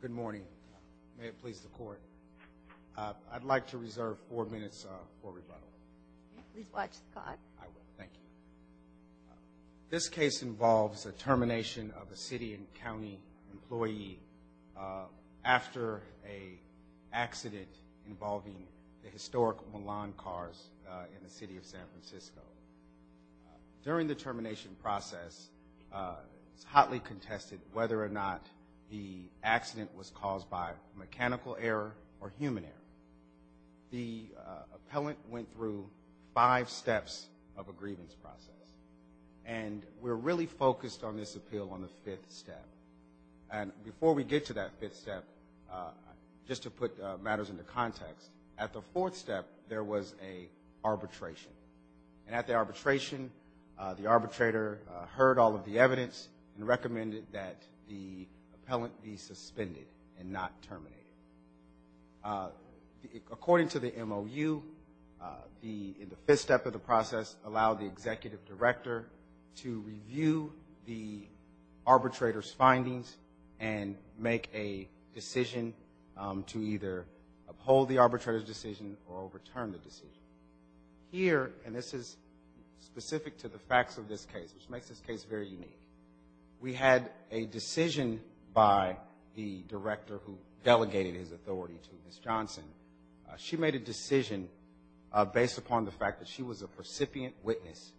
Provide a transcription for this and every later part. Good morning. May it please the court. I'd like to reserve four minutes for rebuttal. Please watch the clock. I will. Thank you. This case involves the termination of a City & County employee after an accident involving the historic Milan cars in the City of San Francisco. During the termination process, it's hotly contested whether or not the accident was caused by mechanical error or human error. The appellant went through five steps of a grievance process, and we're really focused on this appeal on the fifth step. And before we get to that fifth step, just to put matters into context, at the fourth step there was an arbitration. And at the arbitration, the arbitrator heard all of the evidence and recommended that the appellant be suspended and not terminated. According to the MOU, the fifth step of the process allowed the executive director to review the arbitrator's findings and make a decision to either uphold the arbitrator's decision or overturn the decision. Here, and this is specific to the facts of this case, which makes this case very unique, we had a decision by the director who delegated his authority to Ms. Johnson. She made a decision based upon the fact that she was a recipient witness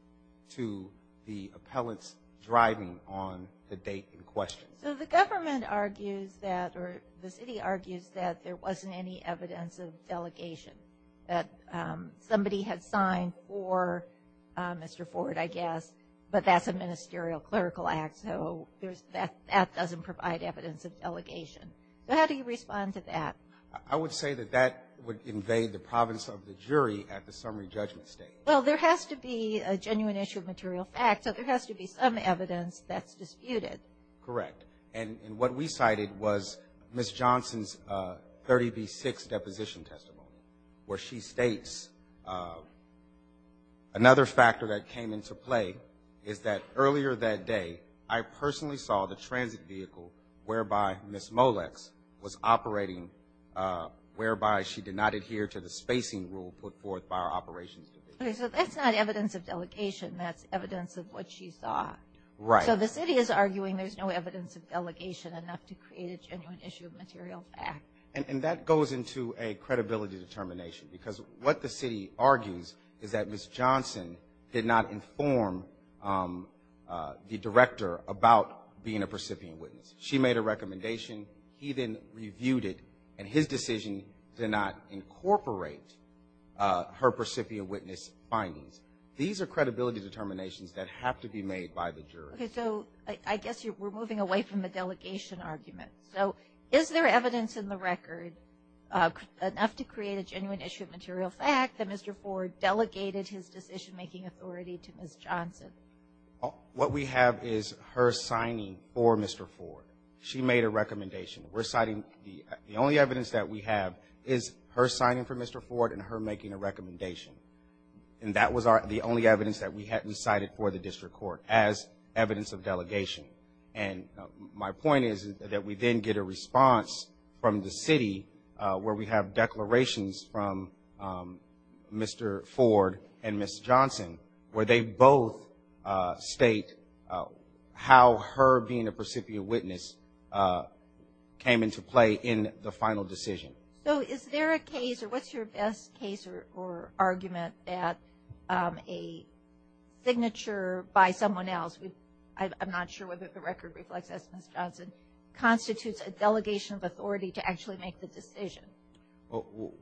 to the appellant's driving on the date in question. So the government argues that, or the city argues that there wasn't any evidence of delegation, that somebody had signed for Mr. Ford, I guess, but that's a ministerial clerical act, so that doesn't provide evidence of delegation. So how do you respond to that? I would say that that would invade the province of the jury at the summary judgment stage. Well, there has to be a genuine issue of material fact, so there has to be some evidence that's disputed. Correct. And what we cited was Ms. Johnson's 30B6 deposition testimony, where she states, another factor that came into play is that earlier that day, I personally saw the transit vehicle whereby Ms. Molex was operating, whereby she did not adhere to the spacing rule put forth by our operations division. Okay, so that's not evidence of delegation. That's evidence of what she saw. Right. So the city is arguing there's no evidence of delegation enough to create a genuine issue of material fact. And that goes into a credibility determination, because what the city argues is that Ms. Johnson did not inform the director about being a percipient witness. She made a recommendation. He then reviewed it, and his decision did not incorporate her percipient witness findings. These are credibility determinations that have to be made by the jury. Okay, so I guess we're moving away from the delegation argument. So is there evidence in the record enough to create a genuine issue of material fact that Mr. Ford delegated his decision-making authority to Ms. Johnson? What we have is her signing for Mr. Ford. She made a recommendation. The only evidence that we have is her signing for Mr. Ford and her making a recommendation. And that was the only evidence that we hadn't cited for the district court as evidence of delegation. And my point is that we then get a response from the city where we have declarations from Mr. Ford and Ms. Johnson where they both state how her being a percipient witness came into play in the final decision. So is there a case or what's your best case or argument that a signature by someone else, I'm not sure whether the record reflects this, Ms. Johnson, constitutes a delegation of authority to actually make the decision?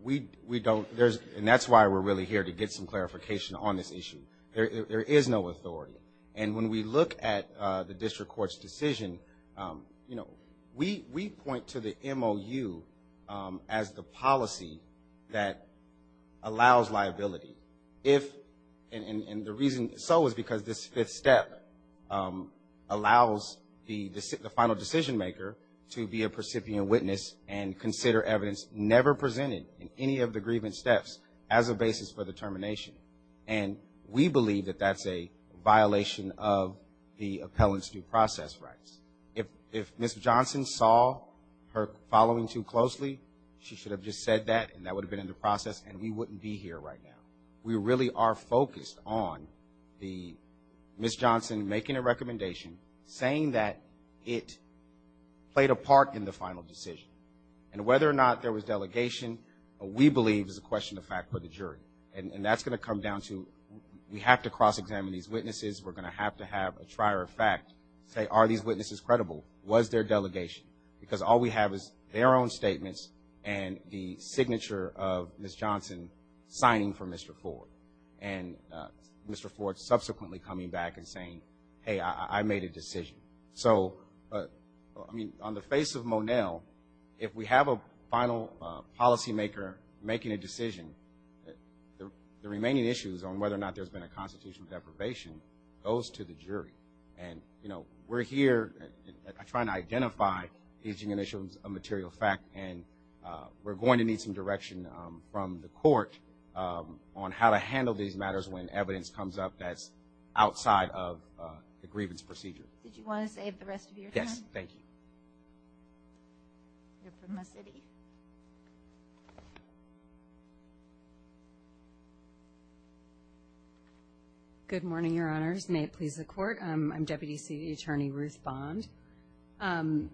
We don't. And that's why we're really here, to get some clarification on this issue. There is no authority. And when we look at the district court's decision, we point to the MOU as the policy that allows liability. And the reason so is because this fifth step allows the final decision-maker to be a percipient witness and consider evidence never presented in any of the grievance steps as a basis for determination. And we believe that that's a violation of the appellant's due process rights. If Ms. Johnson saw her following too closely, she should have just said that and that would have been in the process and we wouldn't be here right now. We really are focused on the Ms. Johnson making a recommendation, saying that it played a part in the final decision. And whether or not there was delegation, we believe is a question of fact for the jury. And that's going to come down to we have to cross-examine these witnesses. We're going to have to have a trier of fact say, are these witnesses credible? Was there delegation? Because all we have is their own statements and the signature of Ms. Johnson signing for Mr. Ford. And Mr. Ford subsequently coming back and saying, hey, I made a decision. So, I mean, on the face of Monell, if we have a final policymaker making a decision, the remaining issues on whether or not there's been a constitutional deprivation goes to the jury. And, you know, we're here trying to identify issues of material fact, and we're going to need some direction from the court on how to handle these matters when evidence comes up that's outside of the grievance procedure. Did you want to save the rest of your time? Yes, thank you. Good morning, Your Honors. May it please the Court. I'm Deputy City Attorney Ruth Bond. And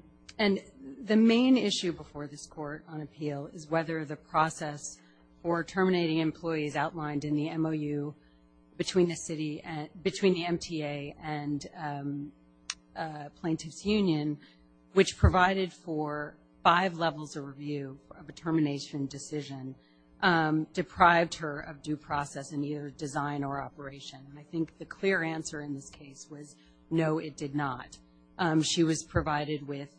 the main issue before this Court on appeal is whether the process for terminating employees outlined in the MOU between the MTA and Plaintiff's Union, which provided for five levels of review of a termination decision, deprived her of due process in either design or operation. And I think the clear answer in this case was no, it did not. She was provided with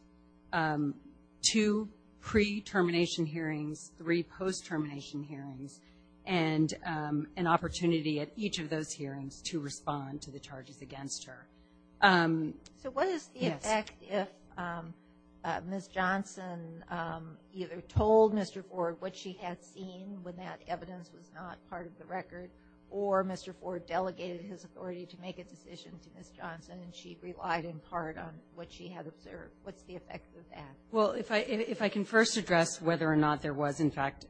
two pre-termination hearings, three post-termination hearings, and an opportunity at each of those hearings to respond to the charges against her. So what is the effect if Ms. Johnson either told Mr. Ford what she had seen when that evidence was not part of the record, or Mr. Ford delegated his authority to make a decision to Ms. Johnson and she relied in part on what she had observed? What's the effect of that? Well, if I can first address whether or not there was, in fact,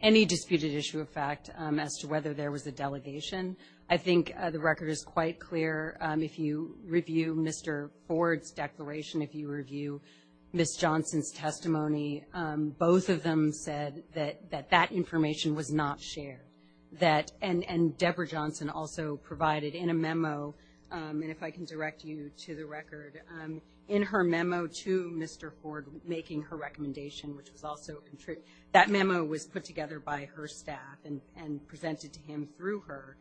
any disputed issue of fact as to whether there was a delegation. I think the record is quite clear. If you review Mr. Ford's declaration, if you review Ms. Johnson's testimony, both of them said that that information was not shared. And Debra Johnson also provided in a memo, and if I can direct you to the record, in her memo to Mr. Ford making her recommendation, which was also, that memo was put together by her staff and presented to him through her,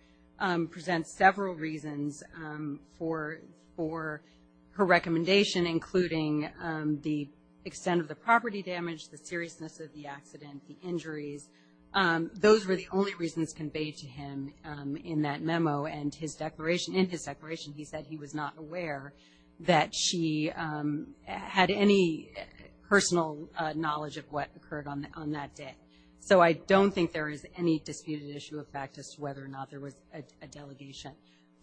presents several reasons for her recommendation, including the extent of the property damage, the seriousness of the accident, the injuries. Those were the only reasons conveyed to him in that memo. And his declaration, in his declaration, he said he was not aware that she had any personal knowledge of what occurred on that day. So I don't think there is any disputed issue of fact as to whether or not there was a delegation.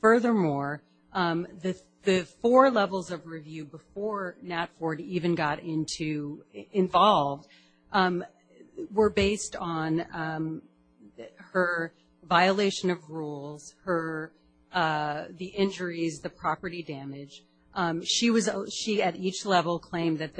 Furthermore, the four levels of review before Nat Ford even got involved, were based on her violation of rules, the injuries, the property damage. She, at each level, claimed that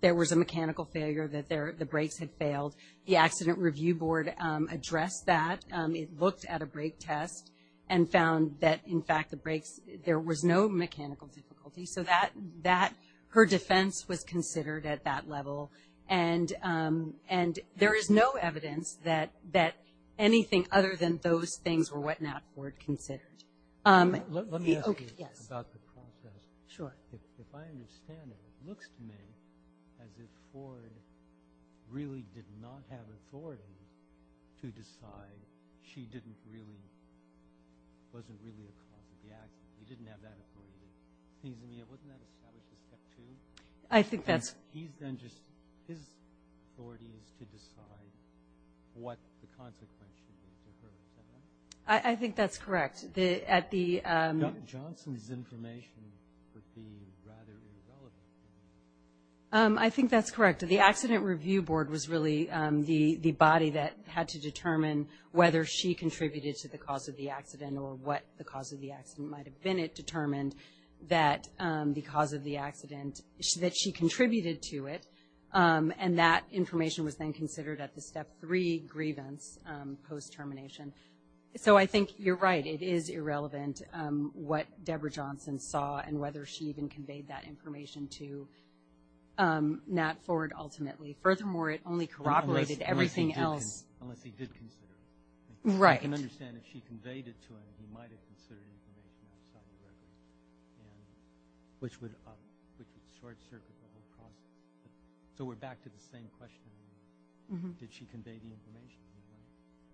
there was a mechanical failure, that the brakes had failed. The Accident Review Board addressed that. It looked at a brake test and found that, in fact, the brakes, there was no mechanical difficulty. So that, her defense was considered at that level. And there is no evidence that anything other than those things were what Nat Ford considered. Let me ask you about the process. Sure. If I understand it, it looks to me as if Ford really did not have authority to decide. She didn't really, wasn't really a cause of the accident. He didn't have that authority. Isn't he able to establish a step two? I think that's. He's then just, his authority is to decide what the consequence should be to her, is that right? I think that's correct. Johnson's information would be rather irrelevant. I think that's correct. The Accident Review Board was really the body that had to determine whether she contributed to the cause of the accident or what the cause of the accident might have been. It determined that the cause of the accident, that she contributed to it, and that information was then considered at the step three grievance post-termination. So I think you're right. It is irrelevant what Deborah Johnson saw and whether she even conveyed that information to Nat Ford ultimately. Furthermore, it only corroborated everything else. Unless he did consider it. Right. I can understand if she conveyed it to him, he might have considered information outside the records, which would short-circuit the whole process. So we're back to the same question. Did she convey the information?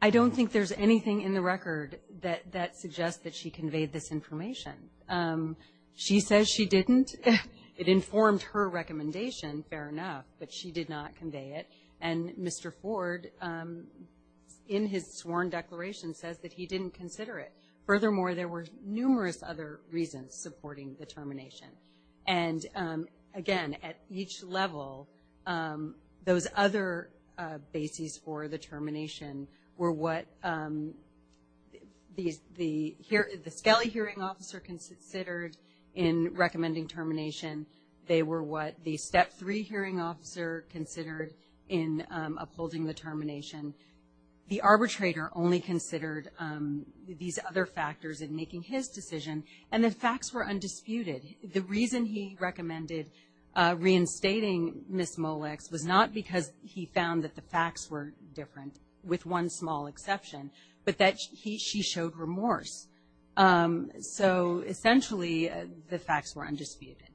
I don't think there's anything in the record that suggests that she conveyed this information. She says she didn't. It informed her recommendation, fair enough, but she did not convey it. And Mr. Ford, in his sworn declaration, says that he didn't consider it. Furthermore, there were numerous other reasons supporting the termination. And, again, at each level, those other bases for the termination were what the Scali hearing officer considered in recommending termination. They were what the step three hearing officer considered in upholding the termination. The arbitrator only considered these other factors in making his decision, and the facts were undisputed. The reason he recommended reinstating Ms. Molex was not because he found that the facts were different, with one small exception, but that she showed remorse. So, essentially, the facts were undisputed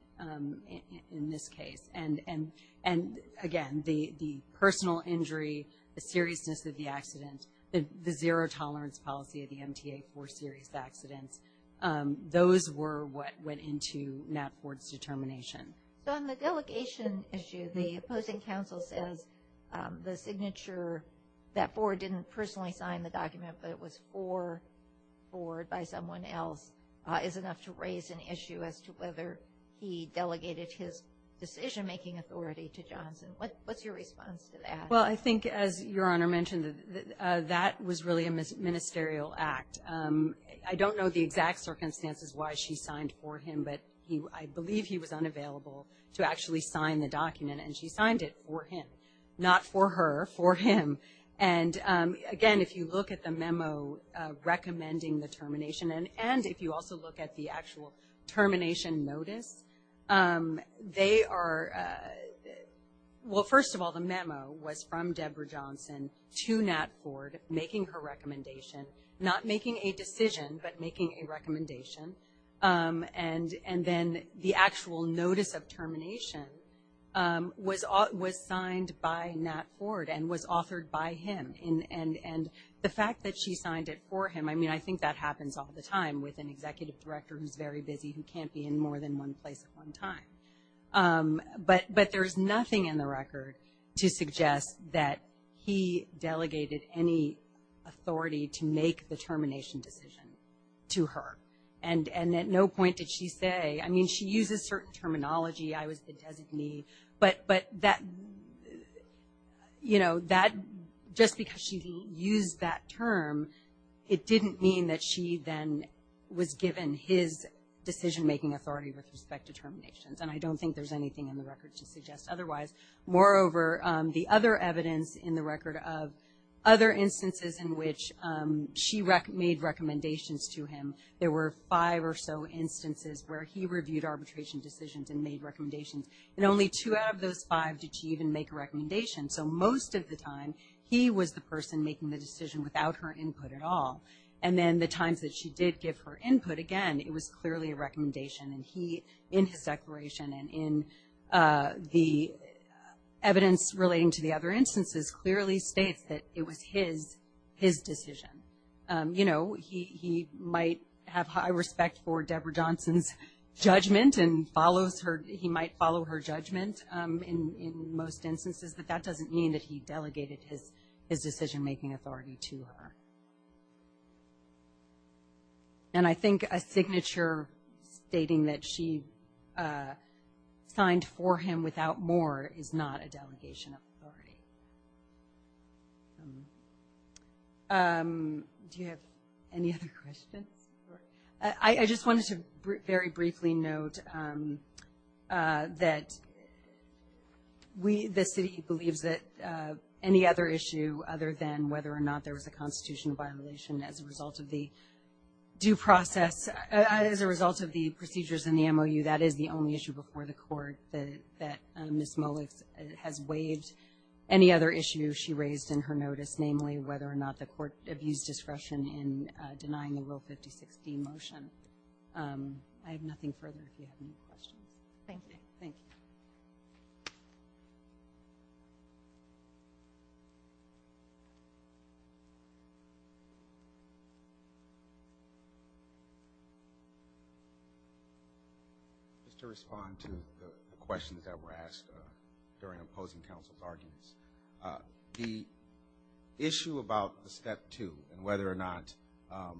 in this case. And, again, the personal injury, the seriousness of the accident, the zero tolerance policy of the MTA for serious accidents, those were what went into Nat Ford's determination. So on the delegation issue, the opposing counsel says the signature that Ford didn't personally sign the document, but it was for Ford by someone else, is enough to raise an issue as to whether he delegated his decision-making authority to Johnson. What's your response to that? Well, I think, as Your Honor mentioned, that was really a ministerial act. I don't know the exact circumstances why she signed for him, but I believe he was unavailable to actually sign the document, and she signed it for him. Not for her, for him. And, again, if you look at the memo recommending the termination, and if you also look at the actual termination notice, they are, well, first of all, the memo was from Deborah Johnson to Nat Ford, making her recommendation, not making a decision, but making a recommendation, and then the actual notice of termination was signed by Nat Ford and was authored by him, and the fact that she signed it for him, I mean, I think that happens all the time with an executive director who's very busy, who can't be in more than one place at one time. But there's nothing in the record to suggest that he delegated any authority to make the termination decision to her, and at no point did she say, I mean, she uses certain terminology, I was the designee, but that, you know, just because she used that term, it didn't mean that she then was given his decision-making authority with respect to terminations, and I don't think there's anything in the record to suggest otherwise. Moreover, the other evidence in the record of other instances in which she made recommendations to him, there were five or so instances where he reviewed arbitration decisions and made recommendations, and only two out of those five did she even make a recommendation, so most of the time he was the person making the decision without her input at all, and then the times that she did give her input, again, it was clearly a recommendation, and he, in his declaration and in the evidence relating to the other instances, clearly states that it was his decision. You know, he might have high respect for Deborah Johnson's judgment and he might follow her judgment in most instances, but that doesn't mean that he delegated his decision-making authority to her. And I think a signature stating that she signed for him without more is not a delegation of authority. Do you have any other questions? I just wanted to very briefly note that we, the city, believes that any other issue other than whether or not there was a constitutional violation as a result of the due process, as a result of the procedures in the MOU, that is the only issue before the Court that Ms. Mullix has waived. Any other issue she raised in her notice, namely, whether or not the Court abused discretion in denying the Rule 56d motion. I have nothing further if you have any questions. Thank you. Thank you. Just to respond to the questions that were asked during opposing counsel's arguments, the issue about the Step 2 and whether or not the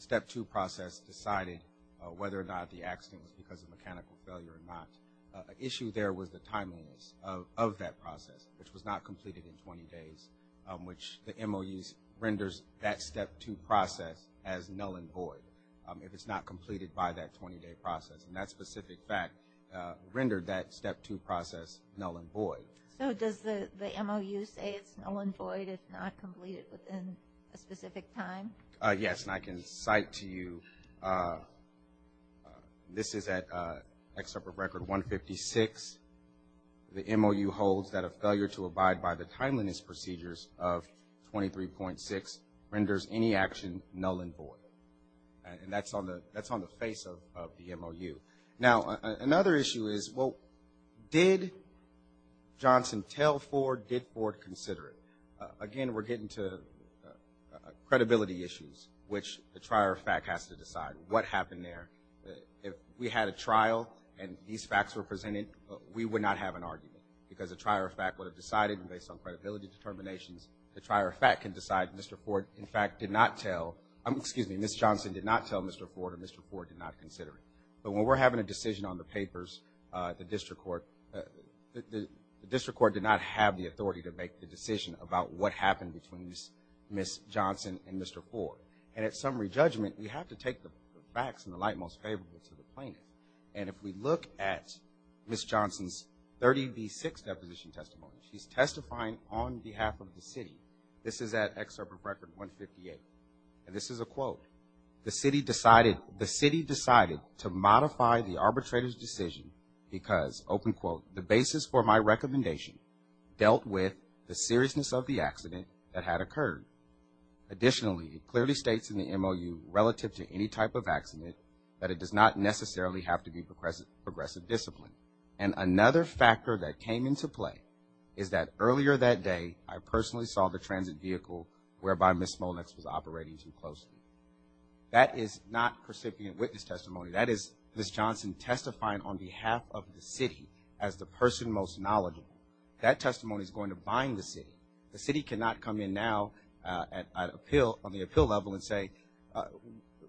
Step 2 process decided whether or not the accident was because of mechanical failure or not, an issue there was the timeliness of that process, which was not completed in 20 days, which the MOU renders that Step 2 process as null and void if it's not completed by that 20-day process. And that specific fact rendered that Step 2 process null and void. So does the MOU say it's null and void if not completed within a specific time? Yes, and I can cite to you, this is at Excerpt of Record 156, the MOU holds that a failure to abide by the timeliness procedures of 23.6 renders any action null and void, and that's on the face of the MOU. Now, another issue is, well, did Johnson tell Ford, did Ford consider it? Again, we're getting to credibility issues, which the trier of fact has to decide what happened there. If we had a trial and these facts were presented, we would not have an argument because the trier of fact would have decided, and based on credibility determinations, the trier of fact can decide that Mr. Ford, in fact, did not tell, excuse me, Ms. Johnson did not tell Mr. Ford or Mr. Ford did not consider it. But when we're having a decision on the papers, the district court did not have the authority to make the decision about what happened between Ms. Johnson and Mr. Ford, and at summary judgment, we have to take the facts in the light most favorable to the plaintiff. And if we look at Ms. Johnson's 30B6 deposition testimony, she's testifying on behalf of the city. This is at Excerpt of Record 158, and this is a quote. The city decided to modify the arbitrator's decision because, open quote, the basis for my recommendation dealt with the seriousness of the accident that had occurred. Additionally, it clearly states in the MOU relative to any type of accident that it does not necessarily have to be progressive discipline. And another factor that came into play is that earlier that day, I personally saw the transit vehicle whereby Ms. Smolniks was operating too closely. That is not recipient witness testimony. That is Ms. Johnson testifying on behalf of the city as the person most knowledgeable. That testimony is going to bind the city. The city cannot come in now on the appeal level and say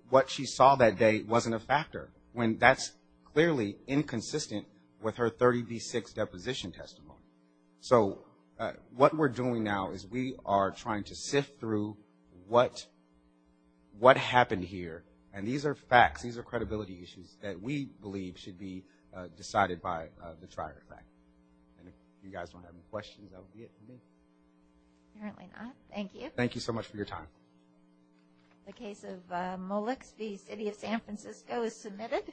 what she saw that day wasn't a factor, when that's clearly inconsistent with her 30B6 deposition testimony. So what we're doing now is we are trying to sift through what happened here. And these are facts. These are credibility issues that we believe should be decided by the trier effect. And if you guys don't have any questions, that would be it for me. Apparently not. Thank you. Thank you so much for your time. The case of Molex v. City of San Francisco is submitted.